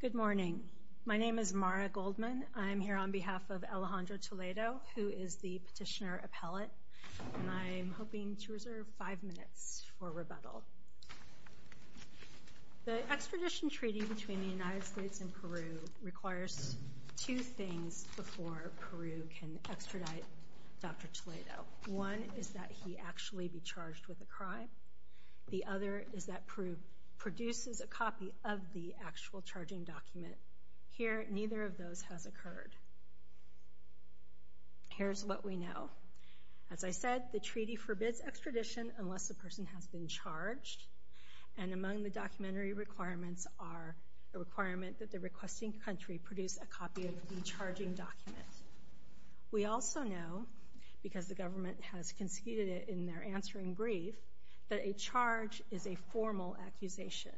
Good morning. My name is Mara Goldman. I'm here on behalf of Alejandro Toledo, who is the petitioner appellate, and I'm hoping to reserve five minutes for rebuttal. The extradition treaty between the United States and Peru requires two things before Peru can extradite Dr. Toledo. One is that he actually be charged with a crime. The other is that Peru produces a copy of the actual charging document. Here, neither of those has occurred. Here's what we know. As I said, the treaty forbids extradition unless the person has been charged. And among the documentary requirements are the requirement that the requesting country produce a copy of the charging document. We also know, because the government has conceded it in their answering brief, that a charge is a formal accusation.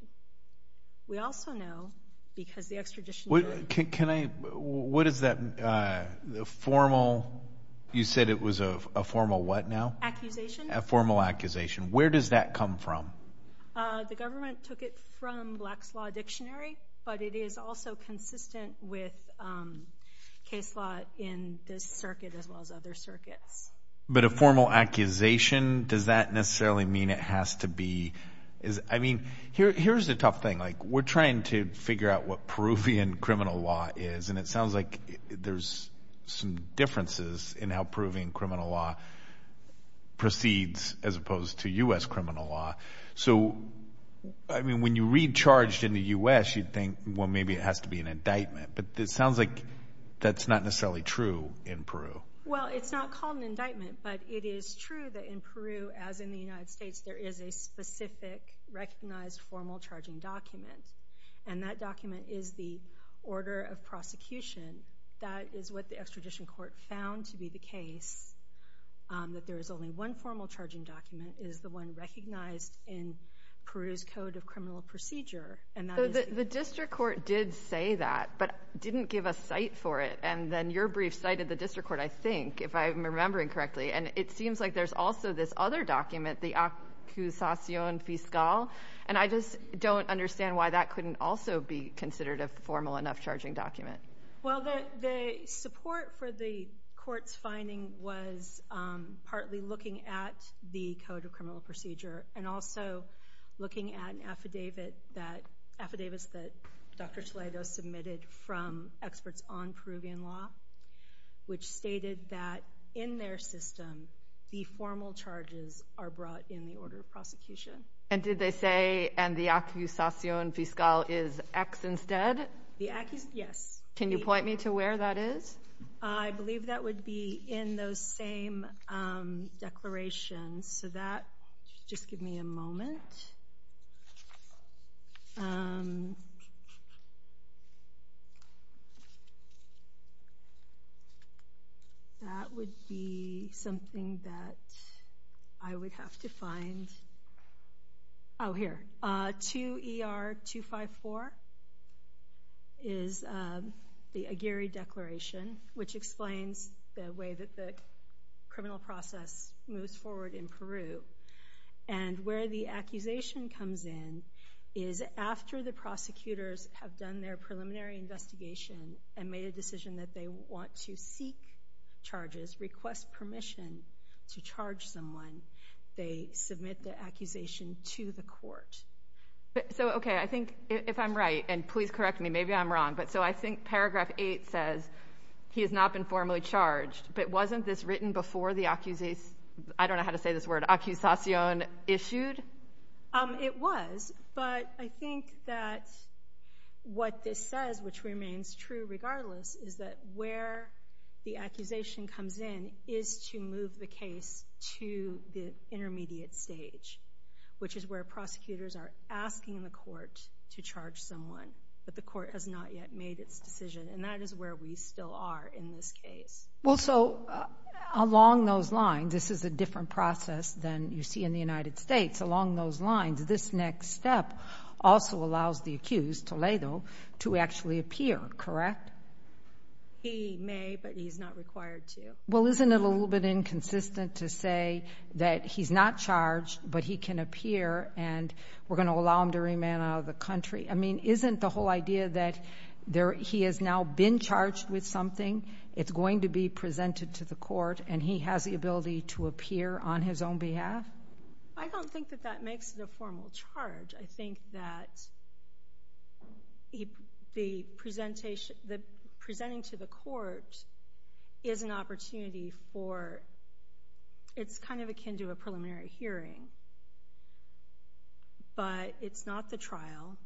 We also know, because the extradition— Can I—what is that formal—you said it was a formal what now? Accusation. A formal accusation. Where does that come from? The government took it from Black's Law Dictionary, but it is also consistent with case law in this circuit as well as other circuits. But a formal accusation, does that necessarily mean it has to be—I mean, here's the tough thing. We're trying to figure out what Peruvian criminal law is, and it sounds like there's some differences in how Peruvian criminal law proceeds as opposed to U.S. criminal law. So, I mean, when you read charged in the U.S., you'd think, well, maybe it has to be an indictment. But it sounds like that's not necessarily true in Peru. Well, it's not called an indictment, but it is true that in Peru, as in the United States, there is a specific recognized formal charging document. And that document is the order of prosecution. That is what the extradition court found to be the case, that there is only one formal charging document. It is the one recognized in Peru's Code of Criminal Procedure, and that is— So the district court did say that, but didn't give a cite for it. And then your brief cited the district court, I think, if I'm remembering correctly. And it seems like there's also this other document, the accusacion fiscal. And I just don't understand why that couldn't also be considered a formal enough charging document. Well, the support for the court's finding was partly looking at the Code of Criminal Procedure and also looking at an affidavit that—affidavits that Dr. Toledo submitted from experts on Peruvian law, which stated that in their system, the formal charges are brought in the order of prosecution. And did they say, and the accusacion fiscal is X instead? Yes. Can you point me to where that is? I believe that would be in those same declarations. So that—just give me a moment. That would be something that I would have to find. Oh, here. 2ER254 is the Aguirre Declaration, which explains the way that the criminal process moves forward in Peru. And where the accusation comes in is after the prosecutors have done their preliminary investigation and made a decision that they want to seek charges, request permission to charge someone, they submit the accusation to the court. So, okay, I think if I'm right, and please correct me, maybe I'm wrong, but so I think paragraph 8 says he has not been formally charged, but wasn't this written before the accusation—I don't know how to say this word—accusacion issued? It was, but I think that what this says, which remains true regardless, is that where the accusation comes in is to move the case to the intermediate stage, which is where prosecutors are asking the court to charge someone, but the court has not yet made its decision, and that is where we still are in this case. Well, so along those lines, this is a different process than you see in the United States. This next step also allows the accused, Toledo, to actually appear, correct? He may, but he's not required to. Well, isn't it a little bit inconsistent to say that he's not charged, but he can appear and we're going to allow him to remain out of the country? I mean, isn't the whole idea that he has now been charged with something, it's going to be presented to the court, and he has the ability to appear on his own behalf? I don't think that that makes it a formal charge. I think that the presenting to the court is an opportunity for— it's kind of akin to a preliminary hearing, but it's not the trial.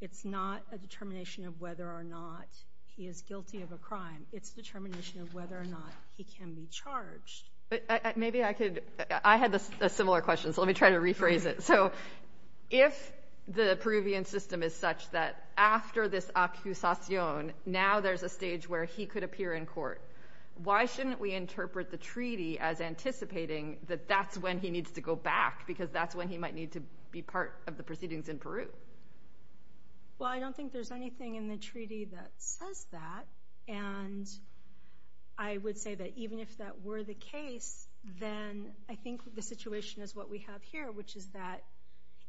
It's not a determination of whether or not he is guilty of a crime. It's a determination of whether or not he can be charged. Maybe I could—I had a similar question, so let me try to rephrase it. So if the Peruvian system is such that after this accusacion, now there's a stage where he could appear in court, why shouldn't we interpret the treaty as anticipating that that's when he needs to go back because that's when he might need to be part of the proceedings in Peru? Well, I don't think there's anything in the treaty that says that, and I would say that even if that were the case, then I think the situation is what we have here, which is that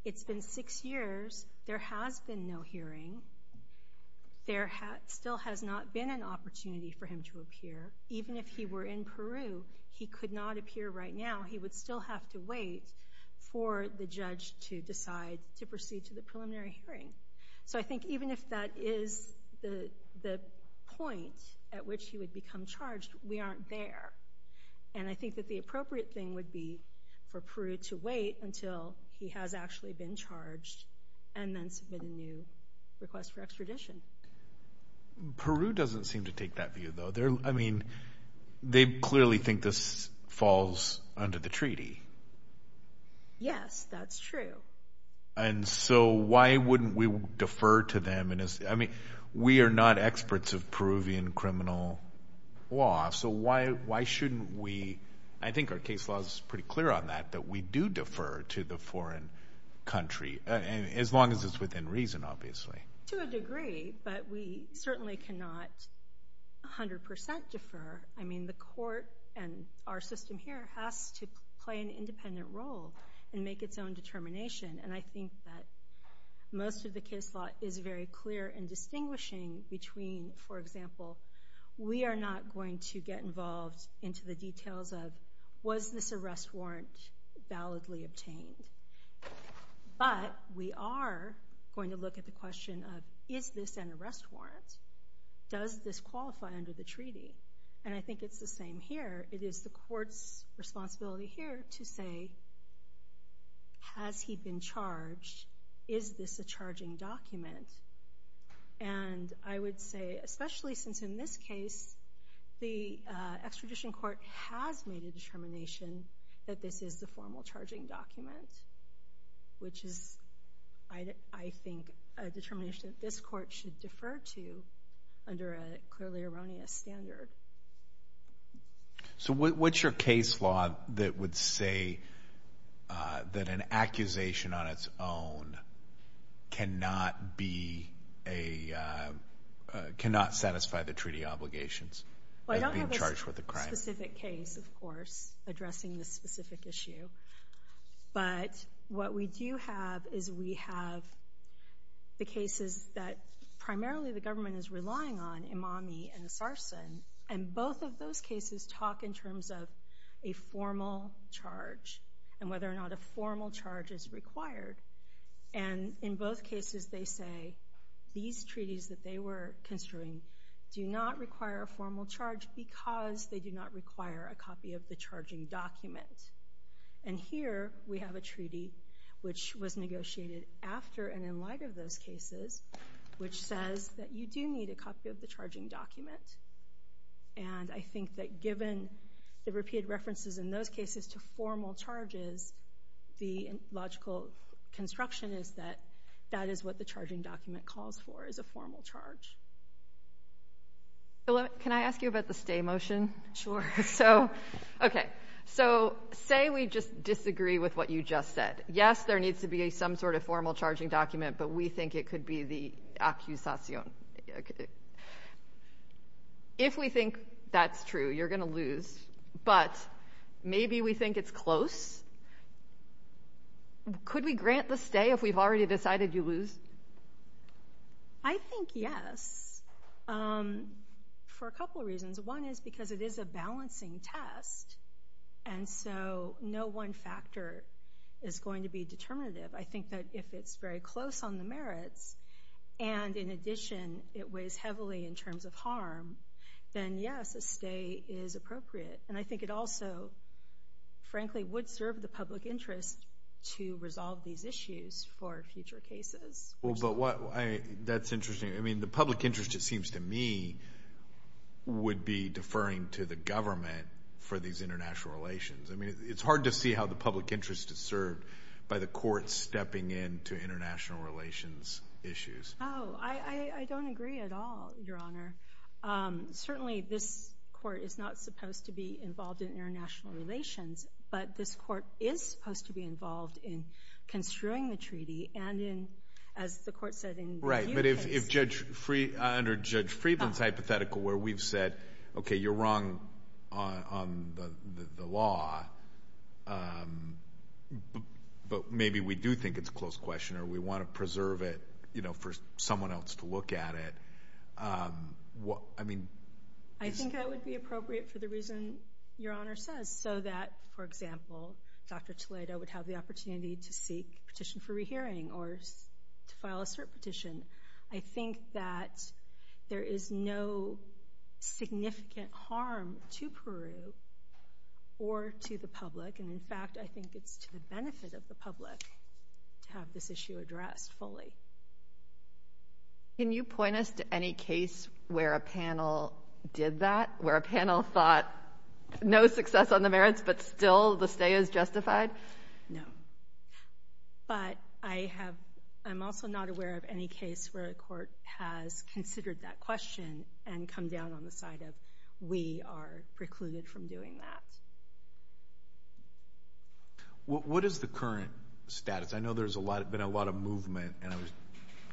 it's been six years. There has been no hearing. There still has not been an opportunity for him to appear. Even if he were in Peru, he could not appear right now. He would still have to wait for the judge to decide to proceed to the preliminary hearing. So I think even if that is the point at which he would become charged, we aren't there. And I think that the appropriate thing would be for Peru to wait until he has actually been charged and then submit a new request for extradition. Peru doesn't seem to take that view, though. I mean, they clearly think this falls under the treaty. Yes, that's true. And so why wouldn't we defer to them? I mean, we are not experts of Peruvian criminal law, so why shouldn't we? I think our case law is pretty clear on that, that we do defer to the foreign country, as long as it's within reason, obviously. To a degree, but we certainly cannot 100% defer. I mean, the court and our system here has to play an independent role and make its own determination. And I think that most of the case law is very clear in distinguishing between, for example, we are not going to get involved into the details of, was this arrest warrant validly obtained? But we are going to look at the question of, is this an arrest warrant? Does this qualify under the treaty? And I think it's the same here. It is the court's responsibility here to say, has he been charged? Is this a charging document? And I would say, especially since in this case, the extradition court has made a determination that this is the formal charging document, which is, I think, a determination that this court should defer to under a clearly erroneous standard. So what's your case law that would say that an accusation on its own cannot be a, cannot satisfy the treaty obligations of being charged with a crime? Well, I don't have a specific case, of course, addressing this specific issue. But what we do have is we have the cases that primarily the government is relying on, Imami and Sarsen, and both of those cases talk in terms of a formal charge and whether or not a formal charge is required. And in both cases, they say these treaties that they were construing do not require a formal charge because they do not require a copy of the charging document. And here we have a treaty which was negotiated after and in light of those cases, which says that you do need a copy of the charging document. And I think that given the repeated references in those cases to formal charges, the logical construction is that that is what the charging document calls for, is a formal charge. Can I ask you about the stay motion? Sure. So, okay. So say we just disagree with what you just said. Yes, there needs to be some sort of formal charging document, but we think it could be the accusation. If we think that's true, you're going to lose. But maybe we think it's close. Could we grant the stay if we've already decided you lose? I think yes, for a couple of reasons. One is because it is a balancing test, and so no one factor is going to be determinative. I think that if it's very close on the merits and, in addition, it weighs heavily in terms of harm, then, yes, a stay is appropriate. And I think it also, frankly, would serve the public interest to resolve these issues for future cases. Well, but that's interesting. I mean, the public interest, it seems to me, would be deferring to the government for these international relations. I mean, it's hard to see how the public interest is served by the courts stepping in to international relations issues. Oh, I don't agree at all, Your Honor. Certainly, this court is not supposed to be involved in international relations, but this court is supposed to be involved in construing the treaty and in, as the court said, in review cases. Right, but if Judge Freedman's hypothetical where we've said, okay, you're wrong on the law, but maybe we do think it's a close question or we want to preserve it for someone else to look at it, I mean. I think that would be appropriate for the reason Your Honor says, so that, for example, Dr. Toledo would have the opportunity to seek petition for rehearing or to file a cert petition. I think that there is no significant harm to Peru or to the public, and in fact, I think it's to the benefit of the public to have this issue addressed fully. Can you point us to any case where a panel did that, where a panel thought no success on the merits, but still the stay is justified? No, but I'm also not aware of any case where a court has considered that question and come down on the side of we are precluded from doing that. What is the current status? I know there's been a lot of movement, and I was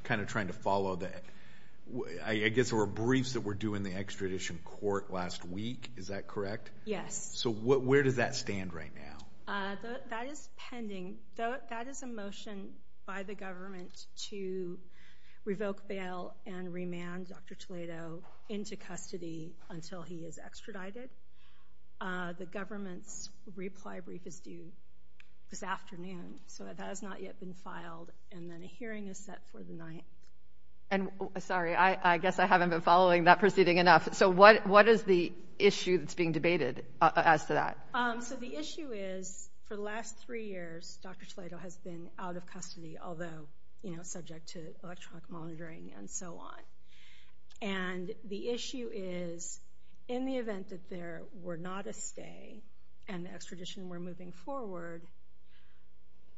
kind of trying to follow that. I guess there were briefs that were due in the extradition court last week. Is that correct? Yes. So where does that stand right now? That is pending. That is a motion by the government to revoke bail and remand Dr. Toledo into custody until he is extradited. The government's reply brief is due this afternoon, so that has not yet been filed, and then a hearing is set for the 9th. Sorry, I guess I haven't been following that proceeding enough. So what is the issue that's being debated as to that? So the issue is for the last three years, Dr. Toledo has been out of custody, although subject to electronic monitoring and so on. And the issue is in the event that there were not a stay and the extradition were moving forward,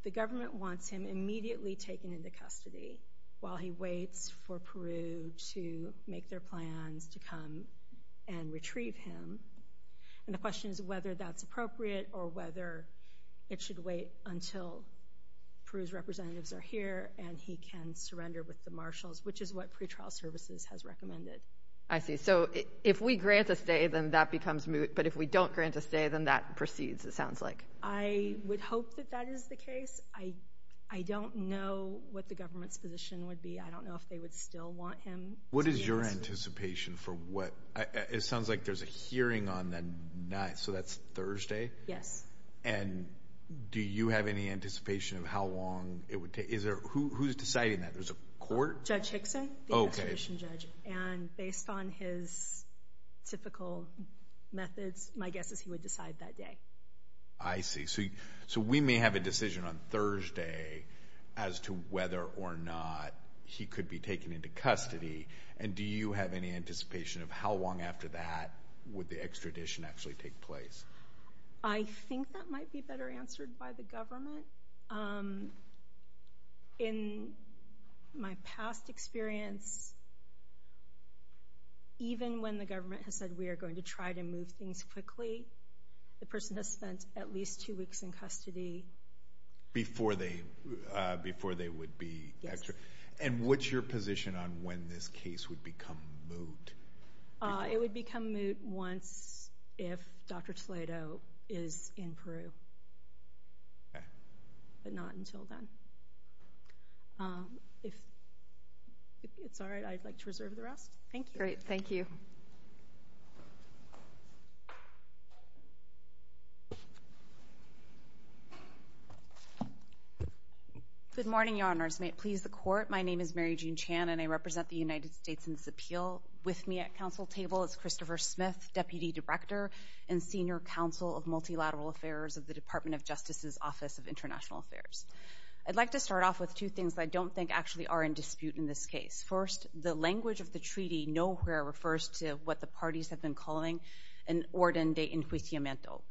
the government wants him immediately taken into custody while he waits for Peru to make their plans to come and retrieve him. And the question is whether that's appropriate or whether it should wait until Peru's representatives are here and he can surrender with the marshals, which is what pretrial services has recommended. I see. So if we grant a stay, then that becomes moot, but if we don't grant a stay, then that proceeds, it sounds like. I would hope that that is the case. I don't know what the government's position would be. I don't know if they would still want him. What is your anticipation for what? It sounds like there's a hearing on the 9th, so that's Thursday. Yes. And do you have any anticipation of how long it would take? Who's deciding that? There's a court? Judge Hickson, the extradition judge. And based on his typical methods, my guess is he would decide that day. I see. So we may have a decision on Thursday as to whether or not he could be taken into custody, and do you have any anticipation of how long after that would the extradition actually take place? I think that might be better answered by the government. In my past experience, even when the government has said we are going to try to move things quickly, the person has spent at least two weeks in custody. Before they would be extradited? Yes. And what's your position on when this case would become moot? It would become moot once if Dr. Toledo is in Peru, but not until then. If it's all right, I'd like to reserve the rest. Thank you. Great. Thank you. Good morning, Your Honors. May it please the Court. My name is Mary Jean Chan, and I represent the United States in this appeal. With me at council table is Christopher Smith, Deputy Director and Senior Counsel of Multilateral Affairs of the Department of Justice's Office of International Affairs. I'd like to start off with two things that I don't think actually are in dispute in this case. First, the language of the treaty nowhere refers to what the parties have been calling an orden de inquisimento.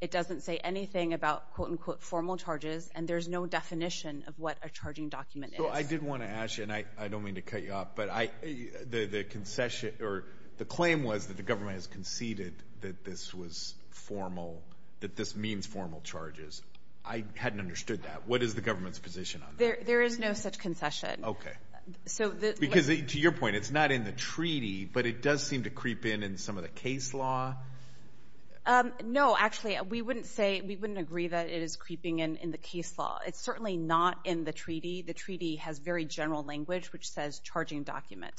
It doesn't say anything about, quote, unquote, formal charges, and there's no definition of what a charging document is. So I did want to ask you, and I don't mean to cut you off, but the concession or the claim was that the government has conceded that this was formal, that this means formal charges. I hadn't understood that. What is the government's position on that? There is no such concession. Okay. To your point, it's not in the treaty, but it does seem to creep in in some of the case law. No, actually, we wouldn't agree that it is creeping in in the case law. It's certainly not in the treaty. The treaty has very general language, which says charging document.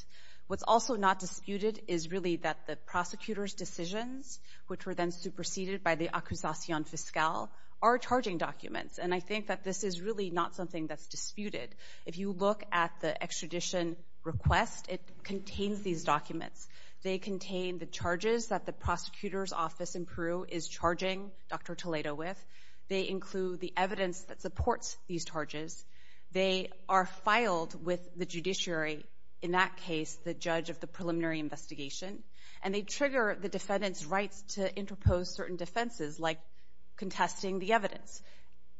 What's also not disputed is really that the prosecutor's decisions, which were then superseded by the accusation fiscale, are charging documents, and I think that this is really not something that's disputed. If you look at the extradition request, it contains these documents. They contain the charges that the prosecutor's office in Peru is charging Dr. Toledo with. They include the evidence that supports these charges. They are filed with the judiciary, in that case the judge of the preliminary investigation, and they trigger the defendant's rights to interpose certain defenses, like contesting the evidence.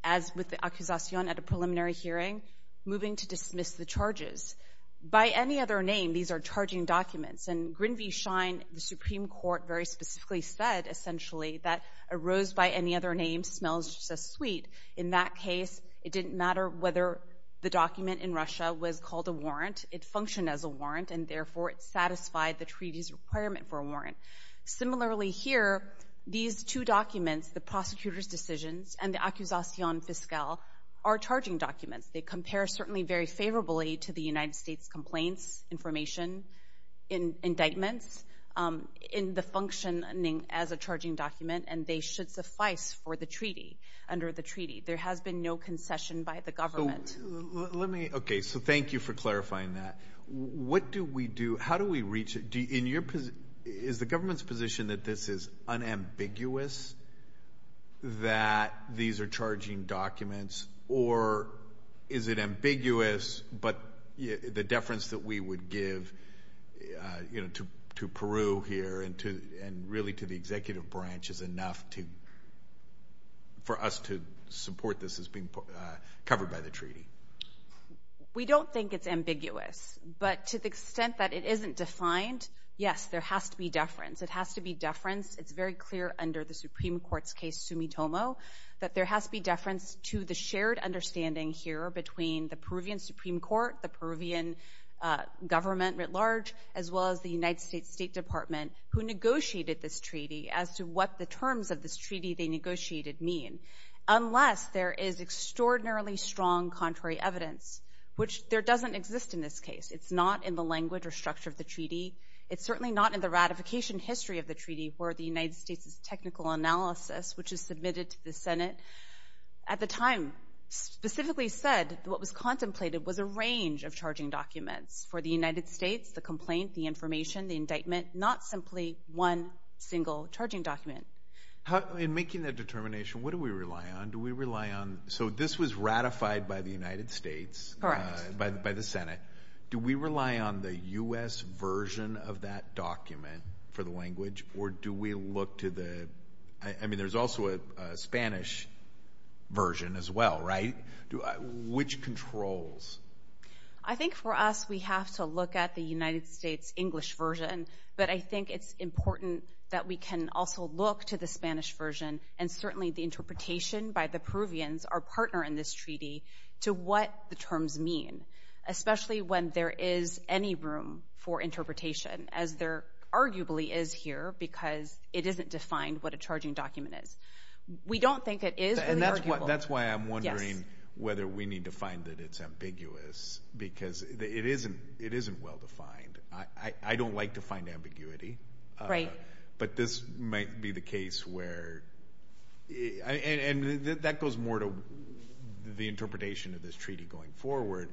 As with the accusation at a preliminary hearing, moving to dismiss the charges. By any other name, these are charging documents, and Grinvig Schein, the Supreme Court, very specifically said, essentially, that a rose by any other name smells just as sweet. In that case, it didn't matter whether the document in Russia was called a warrant. It functioned as a warrant, and therefore it satisfied the treaty's requirement for a warrant. Similarly here, these two documents, the prosecutor's decisions and the accusation fiscale, are charging documents. They compare certainly very favorably to the United States complaints, information, indictments, in the functioning as a charging document, and they should suffice for the treaty, under the treaty. There has been no concession by the government. Let me, okay, so thank you for clarifying that. What do we do? How do we reach it? Is the government's position that this is unambiguous, that these are charging documents, or is it ambiguous, but the deference that we would give to Peru here and really to the executive branch is enough for us to support this as being covered by the treaty? We don't think it's ambiguous, but to the extent that it isn't defined, yes, there has to be deference. It has to be deference. It's very clear under the Supreme Court's case, Sumitomo, that there has to be deference to the shared understanding here between the Peruvian Supreme Court, the Peruvian government at large, as well as the United States State Department, who negotiated this treaty, as to what the terms of this treaty they negotiated mean, unless there is extraordinarily strong contrary evidence, which there doesn't exist in this case. It's not in the language or structure of the treaty. It's certainly not in the ratification history of the treaty where the United States' technical analysis, which is submitted to the Senate at the time, specifically said what was contemplated was a range of charging documents for the United States, the complaint, the information, the indictment, not simply one single charging document. In making that determination, what do we rely on? Do we rely on—so this was ratified by the United States— Correct. —by the Senate. Do we rely on the U.S. version of that document for the language, or do we look to the— I mean, there's also a Spanish version as well, right? Which controls? I think for us we have to look at the United States English version, but I think it's important that we can also look to the Spanish version and certainly the interpretation by the Peruvians, our partner in this treaty, to what the terms mean, especially when there is any room for interpretation, as there arguably is here because it isn't defined what a charging document is. We don't think it is really arguable. That's why I'm wondering whether we need to find that it's ambiguous because it isn't well defined. I don't like to find ambiguity. Right. But this might be the case where—and that goes more to the interpretation of this treaty going forward,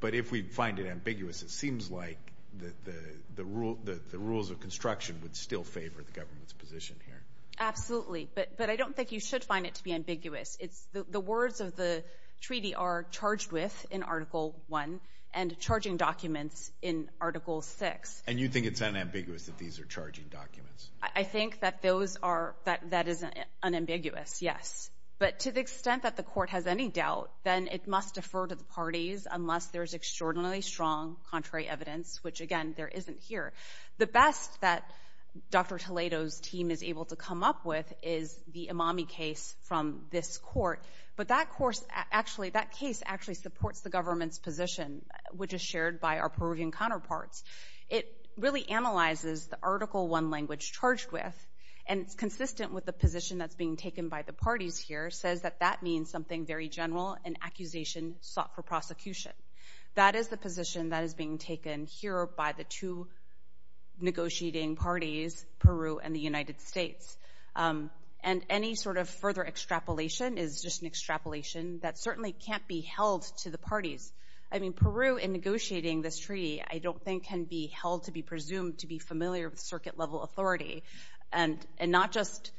but if we find it ambiguous, it seems like the rules of construction would still favor the government's position here. Absolutely, but I don't think you should find it to be ambiguous. The words of the treaty are charged with in Article I and charging documents in Article VI. And you think it's unambiguous that these are charging documents? I think that those are—that is unambiguous, yes. But to the extent that the court has any doubt, then it must defer to the parties unless there is extraordinarily strong contrary evidence, which, again, there isn't here. The best that Dr. Toledo's team is able to come up with is the Imami case from this court. But that case actually supports the government's position, which is shared by our Peruvian counterparts. It really analyzes the Article I language charged with, and it's consistent with the position that's being taken by the parties here, says that that means something very general, an accusation sought for prosecution. That is the position that is being taken here by the two negotiating parties, Peru and the United States. And any sort of further extrapolation is just an extrapolation that certainly can't be held to the parties. I mean, Peru, in negotiating this treaty, I don't think can be held to be presumed to be familiar with circuit-level authority, and not just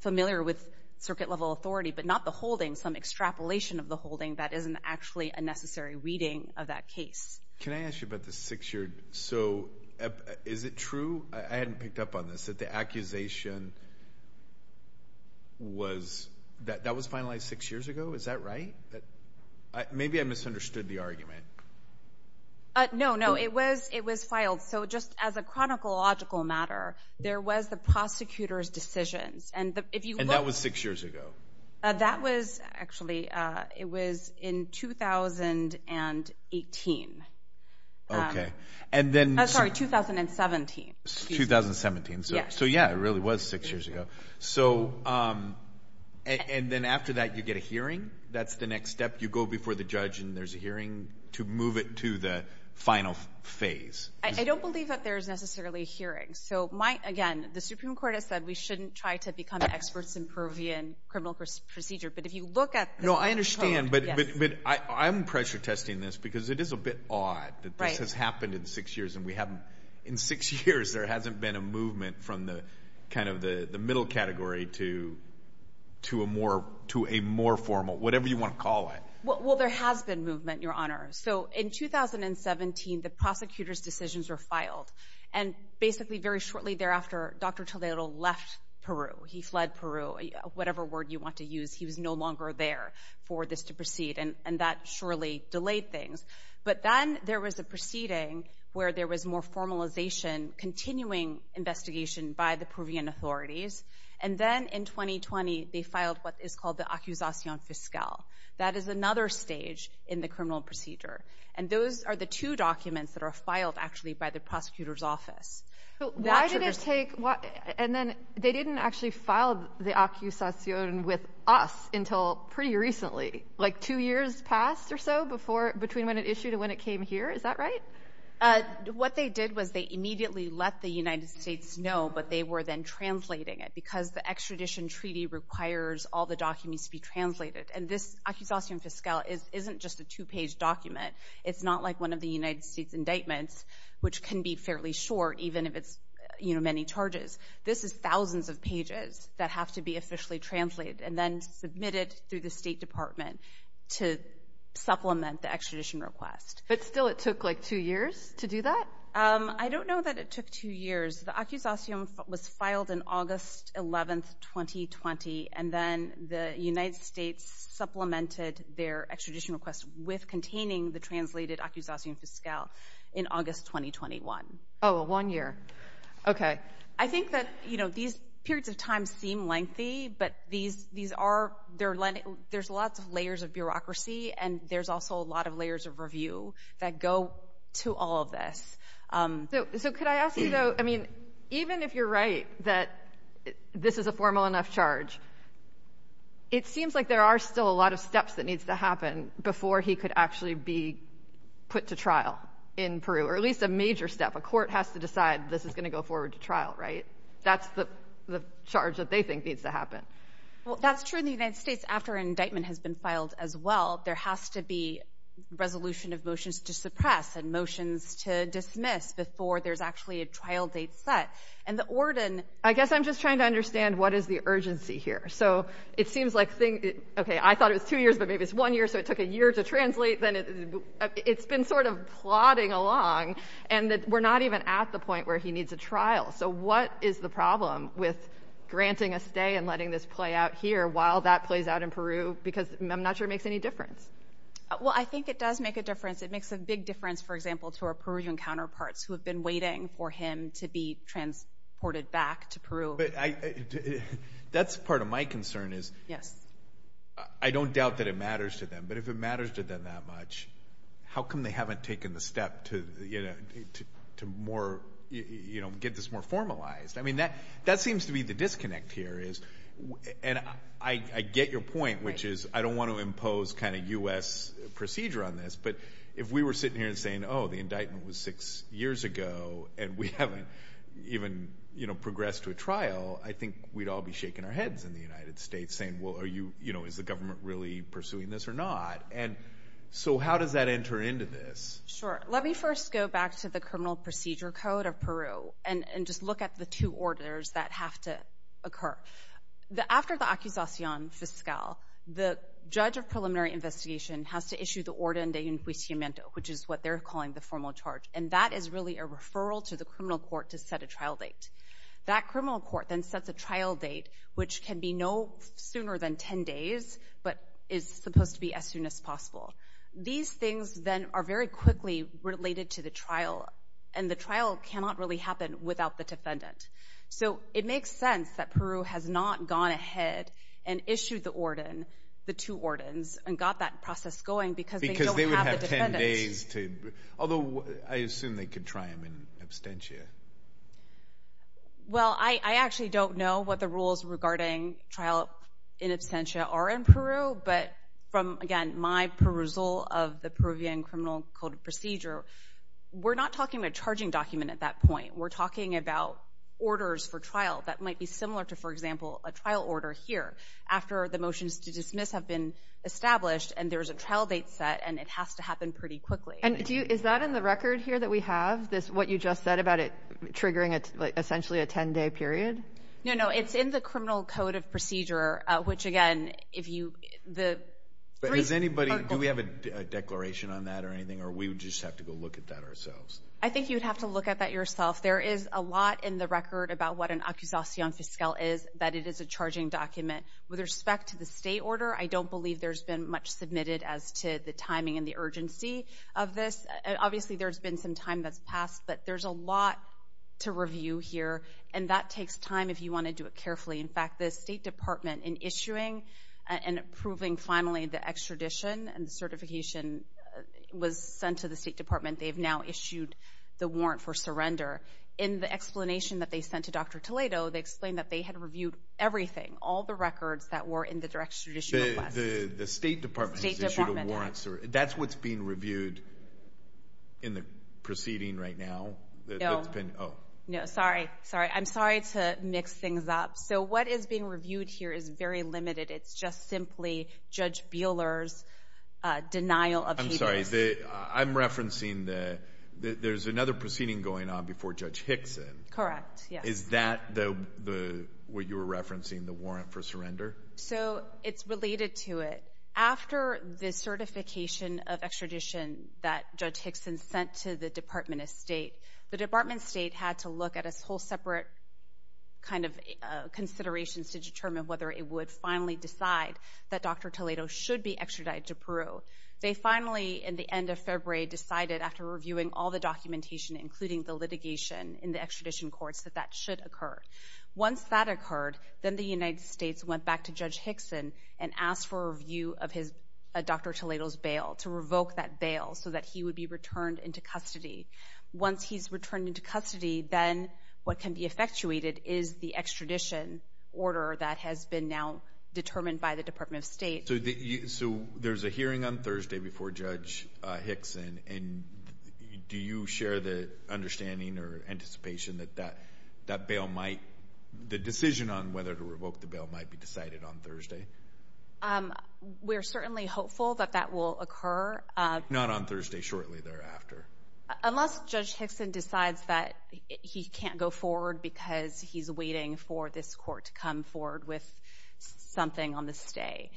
familiar with circuit-level authority, but not the holding, some extrapolation of the holding that isn't actually a necessary reading of that case. Can I ask you about the six-year? So is it true – I hadn't picked up on this – that the accusation was – that that was finalized six years ago? Is that right? Maybe I misunderstood the argument. No, no, it was filed. So just as a chronological matter, there was the prosecutor's decisions. And that was six years ago? That was – actually, it was in 2018. Okay. Sorry, 2017. 2017. So, yeah, it really was six years ago. And then after that, you get a hearing? That's the next step? You go before the judge and there's a hearing to move it to the final phase? I don't believe that there's necessarily a hearing. So, again, the Supreme Court has said we shouldn't try to become experts in Peruvian criminal procedure. But if you look at the code – No, I understand. But I'm pressure-testing this because it is a bit odd that this has happened in six years and we haven't – in six years there hasn't been a movement from kind of the middle category to a more formal – whatever you want to call it. Well, there has been movement, Your Honor. So, in 2017, the prosecutor's decisions were filed. And basically, very shortly thereafter, Dr. Toledo left Peru. He fled Peru. Whatever word you want to use, he was no longer there for this to proceed. And that surely delayed things. But then there was a proceeding where there was more formalization, continuing investigation by the Peruvian authorities. And then in 2020, they filed what is called the Acusación Fiscal. That is another stage in the criminal procedure. And those are the two documents that are filed, actually, by the prosecutor's office. Why did it take – and then they didn't actually file the Acusación with us until pretty recently, like two years passed or so before – between when it issued and when it came here. Is that right? What they did was they immediately let the United States know, but they were then translating it And this Acusación Fiscal isn't just a two-page document. It's not like one of the United States indictments, which can be fairly short, even if it's many charges. This is thousands of pages that have to be officially translated and then submitted through the State Department to supplement the extradition request. But still, it took, like, two years to do that? I don't know that it took two years. The Acusación was filed in August 11, 2020, and then the United States supplemented their extradition request with containing the translated Acusación Fiscal in August 2021. Oh, one year. Okay. I think that, you know, these periods of time seem lengthy, but there's lots of layers of bureaucracy, and there's also a lot of layers of review that go to all of this. So could I ask you, though? I mean, even if you're right that this is a formal enough charge, it seems like there are still a lot of steps that needs to happen before he could actually be put to trial in Peru, or at least a major step. A court has to decide this is going to go forward to trial, right? That's the charge that they think needs to happen. Well, that's true in the United States. After an indictment has been filed as well, there has to be resolution of motions to suppress and motions to dismiss before there's actually a trial date set. And the Ordin... I guess I'm just trying to understand what is the urgency here. So it seems like things... Okay, I thought it was two years, but maybe it's one year, so it took a year to translate. It's been sort of plodding along, and we're not even at the point where he needs a trial. So what is the problem with granting a stay and letting this play out here while that plays out in Peru? Because I'm not sure it makes any difference. Well, I think it does make a difference. It makes a big difference, for example, to our Peruvian counterparts who have been waiting for him to be transported back to Peru. But that's part of my concern is... Yes. ...I don't doubt that it matters to them, but if it matters to them that much, how come they haven't taken the step to get this more formalized? I mean, that seems to be the disconnect here is... And I get your point, which is I don't want to impose kind of U.S. procedure on this, but if we were sitting here and saying, oh, the indictment was six years ago and we haven't even progressed to a trial, I think we'd all be shaking our heads in the United States saying, well, is the government really pursuing this or not? And so how does that enter into this? Sure. Let me first go back to the criminal procedure code of Peru and just look at the two orders that have to occur. After the accusacion fiscal, the judge of preliminary investigation has to issue the orden de inquisimiento, which is what they're calling the formal charge, and that is really a referral to the criminal court to set a trial date. That criminal court then sets a trial date, which can be no sooner than 10 days, but is supposed to be as soon as possible. These things then are very quickly related to the trial, and the trial cannot really happen without the defendant. So it makes sense that Peru has not gone ahead and issued the orden, the two ordens, and got that process going because they don't have the defendant. Because they would have 10 days to... Although I assume they could try him in absentia. Well, I actually don't know what the rules regarding trial in absentia are in Peru, but from, again, my perusal of the Peruvian criminal court procedure, we're not talking about a charging document at that point. We're talking about orders for trial that might be similar to, for example, a trial order here after the motions to dismiss have been established and there's a trial date set, and it has to happen pretty quickly. And is that in the record here that we have, what you just said about it triggering essentially a 10-day period? No, no, it's in the criminal code of procedure, which, again, if you... Does anybody... Do we have a declaration on that or anything, or do we just have to go look at that ourselves? I think you'd have to look at that yourself. There is a lot in the record about what an acusación fiscal is, that it is a charging document. With respect to the state order, I don't believe there's been much submitted as to the timing and the urgency of this. Obviously, there's been some time that's passed, but there's a lot to review here, and that takes time if you want to do it carefully. In fact, the State Department, in issuing and approving, finally, the extradition and the certification was sent to the State Department. They've now issued the warrant for surrender. In the explanation that they sent to Dr. Toledo, they explained that they had reviewed everything, all the records that were in the direct extradition request. The State Department has issued a warrant. That's what's being reviewed in the proceeding right now? No. Oh. No, sorry, sorry. I'm sorry to mix things up. So what is being reviewed here is very limited. It's just simply Judge Buehler's denial of... I'm referencing that there's another proceeding going on before Judge Hickson. Correct, yes. Is that what you were referencing, the warrant for surrender? So it's related to it. After the certification of extradition that Judge Hickson sent to the Department of State, the Department of State had to look at a whole separate kind of considerations to determine whether it would finally decide that Dr. Toledo should be extradited to Peru. They finally, in the end of February, decided after reviewing all the documentation, including the litigation in the extradition courts, that that should occur. Once that occurred, then the United States went back to Judge Hickson and asked for a review of Dr. Toledo's bail, to revoke that bail so that he would be returned into custody. Once he's returned into custody, then what can be effectuated is the extradition order that has been now determined by the Department of State. So there's a hearing on Thursday before Judge Hickson, and do you share the understanding or anticipation that the decision on whether to revoke the bail might be decided on Thursday? We're certainly hopeful that that will occur. Not on Thursday, shortly thereafter? Unless Judge Hickson decides that he can't go forward because he's waiting for this court to come forward with something on the stay.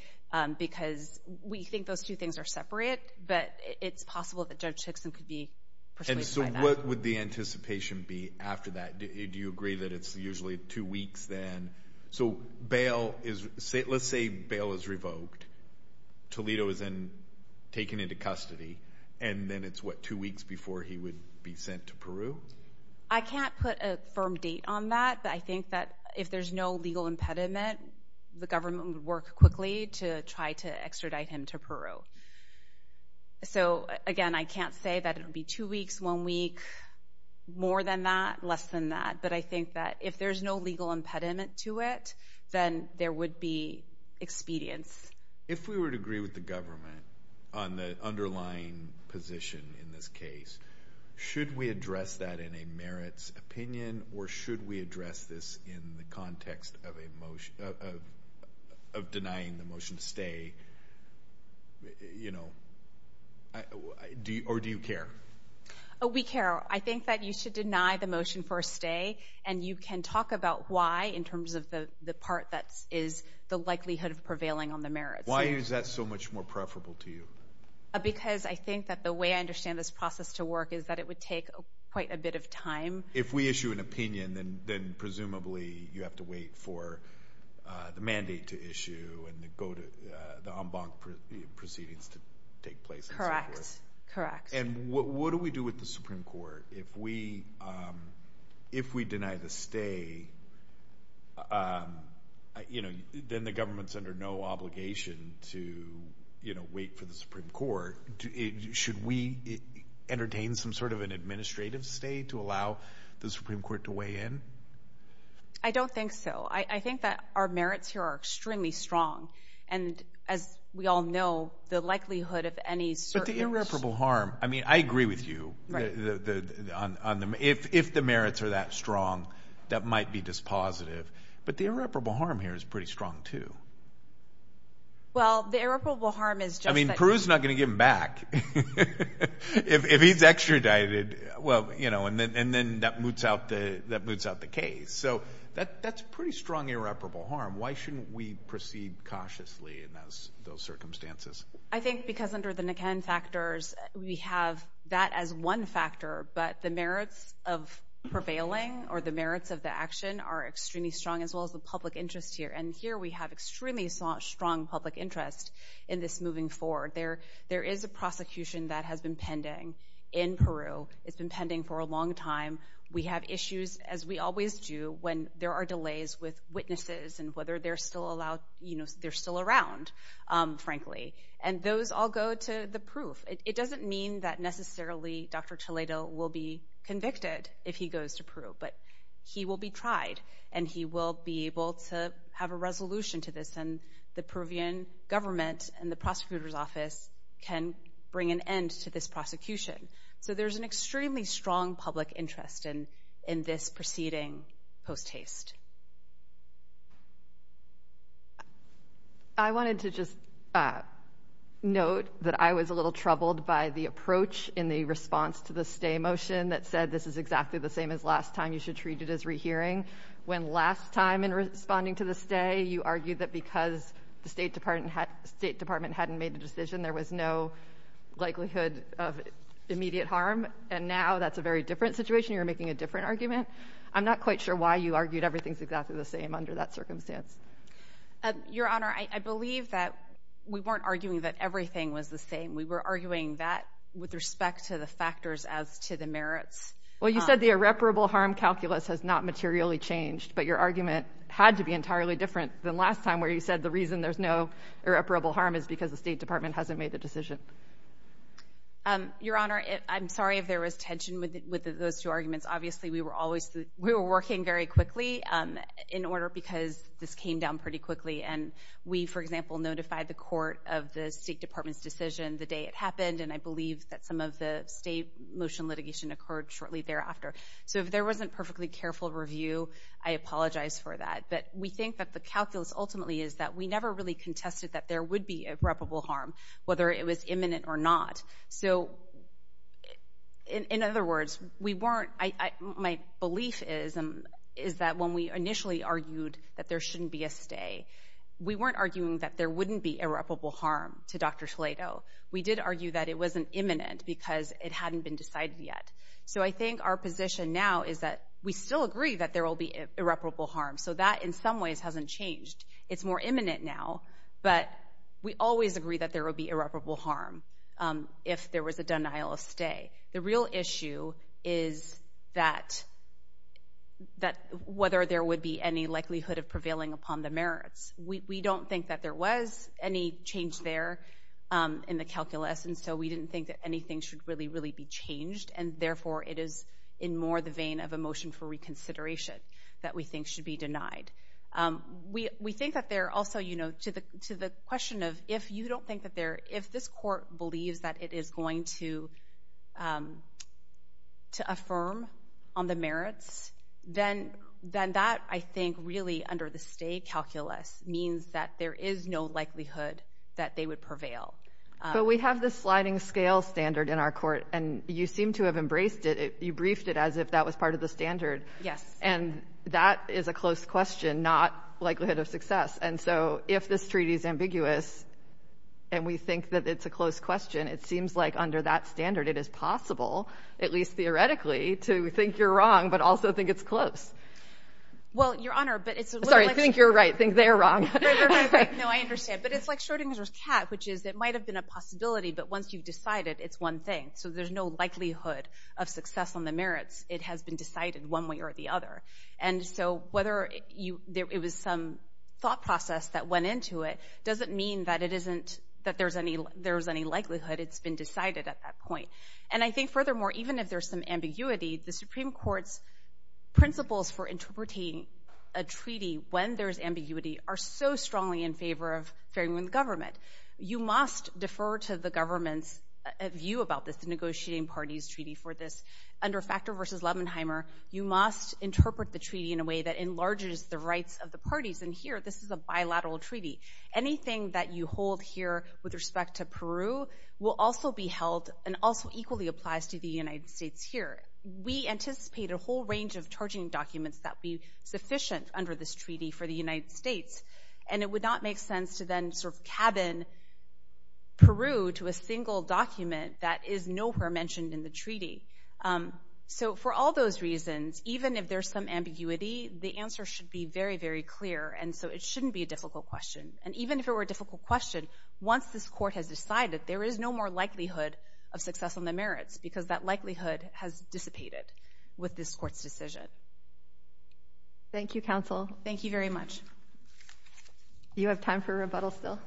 Because we think those two things are separate, but it's possible that Judge Hickson could be persuaded by that. And so what would the anticipation be after that? Do you agree that it's usually two weeks then? So bail is, let's say bail is revoked, Toledo is then taken into custody, and then it's, what, two weeks before he would be sent to Peru? I can't put a firm date on that, but I think that if there's no legal impediment, the government would work quickly to try to extradite him to Peru. So, again, I can't say that it would be two weeks, one week, more than that, less than that. But I think that if there's no legal impediment to it, then there would be expedience. If we were to agree with the government on the underlying position in this case, should we address that in a merits opinion or should we address this in the context of denying the motion to stay? Or do you care? We care. I think that you should deny the motion for a stay, and you can talk about why in terms of the part that is the likelihood of prevailing on the merits. Why is that so much more preferable to you? Because I think that the way I understand this process to work is that it would take quite a bit of time. If we issue an opinion, then presumably you have to wait for the mandate to issue and the en banc proceedings to take place. Correct. And what do we do with the Supreme Court? If we deny the stay, then the government's under no obligation to wait for the Supreme Court. Should we entertain some sort of an administrative stay to allow the Supreme Court to weigh in? I don't think so. I think that our merits here are extremely strong. And as we all know, the likelihood of any certain— But the irreparable harm, I mean, I agree with you. If the merits are that strong, that might be dispositive. But the irreparable harm here is pretty strong too. Well, the irreparable harm is just that— Peru's not going to give him back if he's extradited. And then that moots out the case. So that's pretty strong irreparable harm. Why shouldn't we proceed cautiously in those circumstances? I think because under the Niken factors, we have that as one factor, but the merits of prevailing or the merits of the action are extremely strong as well as the public interest here. And here we have extremely strong public interest in this moving forward. There is a prosecution that has been pending in Peru. It's been pending for a long time. We have issues, as we always do, when there are delays with witnesses and whether they're still around, frankly. And those all go to the proof. It doesn't mean that necessarily Dr. Toledo will be convicted if he goes to Peru, but he will be tried and he will be able to have a resolution to this. And the Peruvian government and the prosecutor's office can bring an end to this prosecution. So there's an extremely strong public interest in this proceeding post haste. I wanted to just note that I was a little troubled by the approach in the response to the stay motion that said this is exactly the same as last time, you should treat it as rehearing, when last time in responding to the stay, you argued that because the State Department hadn't made a decision, there was no likelihood of immediate harm, and now that's a very different situation, you're making a different argument. I'm not quite sure why you argued everything's exactly the same under that circumstance. Your Honor, I believe that we weren't arguing that everything was the same. We were arguing that with respect to the factors as to the merits. Well, you said the irreparable harm calculus has not materially changed, but your argument had to be entirely different than last time where you said the reason there's no irreparable harm is because the State Department hasn't made the decision. Your Honor, I'm sorry if there was tension with those two arguments. Obviously, we were working very quickly in order because this came down pretty quickly, and we, for example, notified the court of the State Department's decision the day it happened, and I believe that some of the stay motion litigation occurred shortly thereafter. So if there wasn't perfectly careful review, I apologize for that. But we think that the calculus ultimately is that we never really contested that there would be irreparable harm, whether it was imminent or not. So in other words, we weren't—my belief is that when we initially argued that there shouldn't be a stay, we weren't arguing that there wouldn't be irreparable harm to Dr. Toledo. We did argue that it wasn't imminent because it hadn't been decided yet. So I think our position now is that we still agree that there will be irreparable harm, so that in some ways hasn't changed. It's more imminent now, but we always agree that there will be irreparable harm if there was a denial of stay. The real issue is whether there would be any likelihood of prevailing upon the merits. We don't think that there was any change there in the calculus, and so we didn't think that anything should really, really be changed, and therefore it is in more the vein of a motion for reconsideration that we think should be denied. We think that there also, you know, to the question of if you don't think that there— to affirm on the merits, then that, I think, really under the stay calculus means that there is no likelihood that they would prevail. But we have this sliding scale standard in our court, and you seem to have embraced it. You briefed it as if that was part of the standard. Yes. And that is a close question, not likelihood of success. And so if this treaty is ambiguous and we think that it's a close question, it seems like under that standard it is possible, at least theoretically, to think you're wrong but also think it's close. Well, Your Honor, but it's a little like— Sorry, think you're right, think they're wrong. No, I understand. But it's like Schrodinger's cat, which is it might have been a possibility, but once you've decided, it's one thing. So there's no likelihood of success on the merits. It has been decided one way or the other. And so whether it was some thought process that went into it doesn't mean that there's any likelihood. It's been decided at that point. And I think, furthermore, even if there's some ambiguity, the Supreme Court's principles for interpreting a treaty when there's ambiguity are so strongly in favor of fairing with government. You must defer to the government's view about this, the negotiating parties' treaty for this. Under Factor v. Lebenheimer, you must interpret the treaty in a way that enlarges the rights of the parties. And here, this is a bilateral treaty. Anything that you hold here with respect to Peru will also be held and also equally applies to the United States here. We anticipate a whole range of charging documents that would be sufficient under this treaty for the United States. And it would not make sense to then sort of cabin Peru to a single document that is nowhere mentioned in the treaty. So for all those reasons, even if there's some ambiguity, the answer should be very, very clear. And so it shouldn't be a difficult question. And even if it were a difficult question, once this court has decided, there is no more likelihood of success on the merits because that likelihood has dissipated with this court's decision. Thank you, counsel. Thank you very much. Do you have time for a rebuttal still?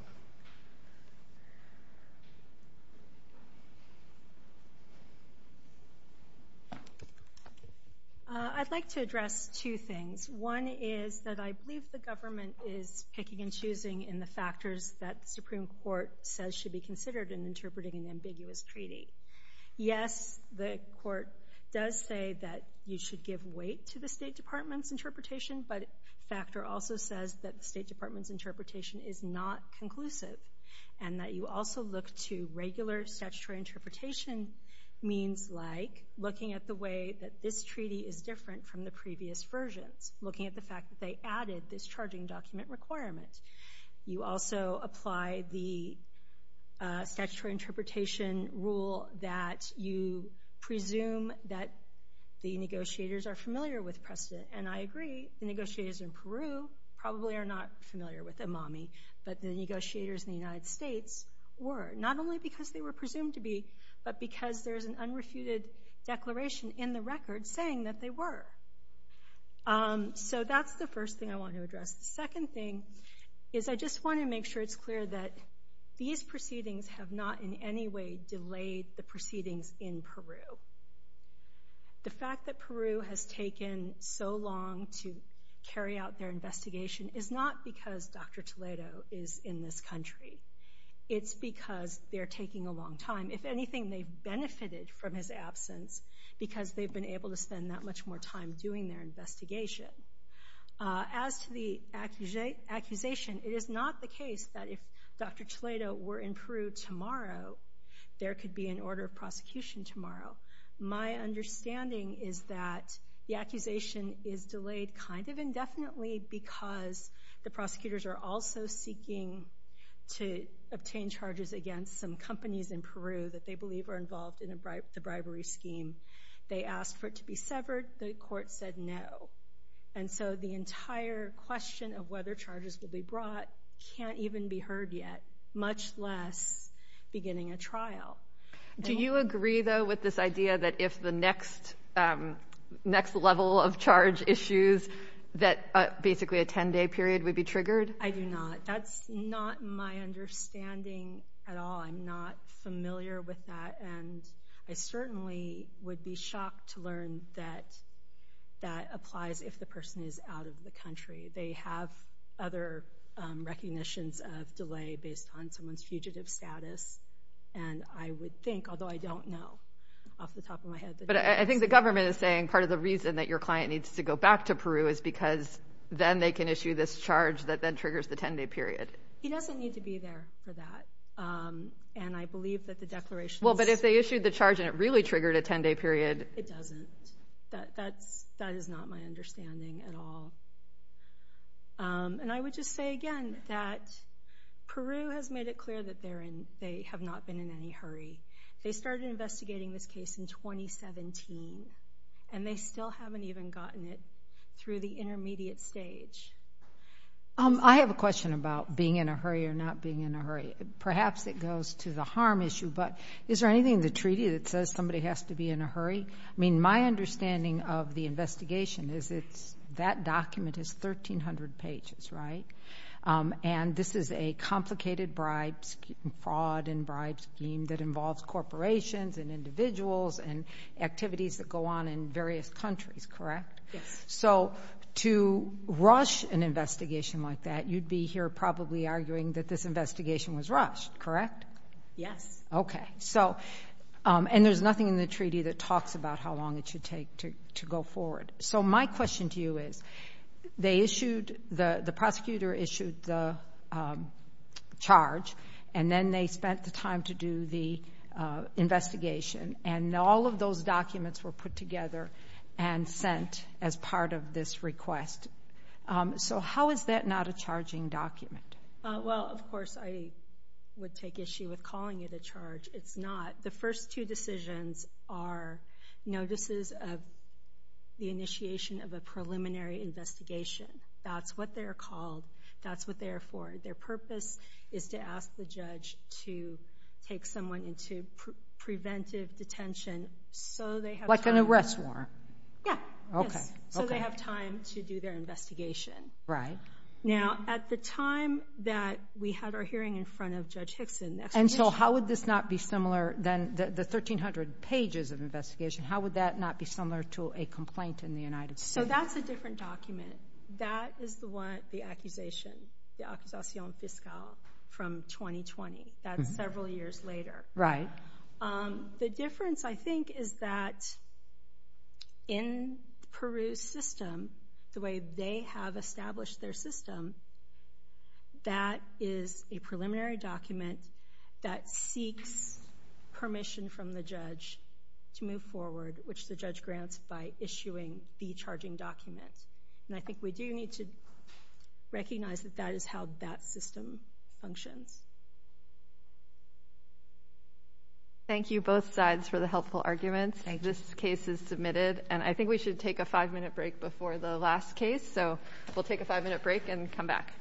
I'd like to address two things. One is that I believe the government is picking and choosing in the factors that the Supreme Court says should be considered in interpreting an ambiguous treaty. Yes, the court does say that you should give weight to the State Department's interpretation, but Factor also says that the State Department's interpretation is not conclusive and that you also look to regular statutory interpretation means like looking at the way that this treaty is different from the previous versions, looking at the fact that they added this charging document requirement. You also apply the statutory interpretation rule that you presume that the negotiators are familiar with precedent, and I agree. The negotiators in Peru probably are not familiar with IMAMI, but the negotiators in the United States were, not only because they were presumed to be, but because there is an unrefuted declaration in the record saying that they were. So that's the first thing I want to address. The second thing is I just want to make sure it's clear that these proceedings have not in any way delayed the proceedings in Peru. The fact that Peru has taken so long to carry out their investigation is not because Dr. Toledo is in this country. It's because they're taking a long time. If anything, they've benefited from his absence because they've been able to spend that much more time doing their investigation. As to the accusation, it is not the case that if Dr. Toledo were in Peru tomorrow, there could be an order of prosecution tomorrow. My understanding is that the accusation is delayed kind of indefinitely because the prosecutors are also seeking to obtain charges against some companies in Peru that they believe are involved in the bribery scheme. They asked for it to be severed. The court said no. And so the entire question of whether charges will be brought can't even be heard yet, much less beginning a trial. Do you agree, though, with this idea that if the next level of charge issues that basically a 10-day period would be triggered? I do not. That's not my understanding at all. I'm not familiar with that, and I certainly would be shocked to learn that that applies if the person is out of the country. They have other recognitions of delay based on someone's fugitive status, and I would think, although I don't know off the top of my head. But I think the government is saying part of the reason that your client needs to go back to Peru is because then they can issue this charge that then triggers the 10-day period. He doesn't need to be there for that, and I believe that the declaration is— Well, but if they issued the charge and it really triggered a 10-day period— It doesn't. That is not my understanding at all. And I would just say again that Peru has made it clear that they have not been in any hurry. They started investigating this case in 2017, and they still haven't even gotten it through the intermediate stage. I have a question about being in a hurry or not being in a hurry. Perhaps it goes to the harm issue, but is there anything in the treaty that says somebody has to be in a hurry? I mean, my understanding of the investigation is that document is 1,300 pages, right? And this is a complicated fraud and bribe scheme that involves corporations and individuals and activities that go on in various countries, correct? Yes. So to rush an investigation like that, you'd be here probably arguing that this investigation was rushed, correct? Yes. Okay. And there's nothing in the treaty that talks about how long it should take to go forward. So my question to you is the prosecutor issued the charge, and then they spent the time to do the investigation, and all of those documents were put together and sent as part of this request. So how is that not a charging document? Well, of course, I would take issue with calling it a charge. It's not. The first two decisions are notices of the initiation of a preliminary investigation. That's what they're called. That's what they're for. Their purpose is to ask the judge to take someone into preventive detention so they have time. Like an arrest warrant? Yeah. Okay. So they have time to do their investigation. Right. Now, at the time that we had our hearing in front of Judge Hickson, And so how would this not be similar, the 1,300 pages of investigation, how would that not be similar to a complaint in the United States? So that's a different document. That is the one, the accusation, the accusation fiscal from 2020. That's several years later. Right. The difference, I think, is that in Peru's system, the way they have established their system, that is a preliminary document that seeks permission from the judge to move forward, which the judge grants by issuing the charging document. And I think we do need to recognize that that is how that system functions. Thank you, both sides, for the helpful arguments. This case is submitted. And I think we should take a five-minute break before the last case. So we'll take a five-minute break and come back.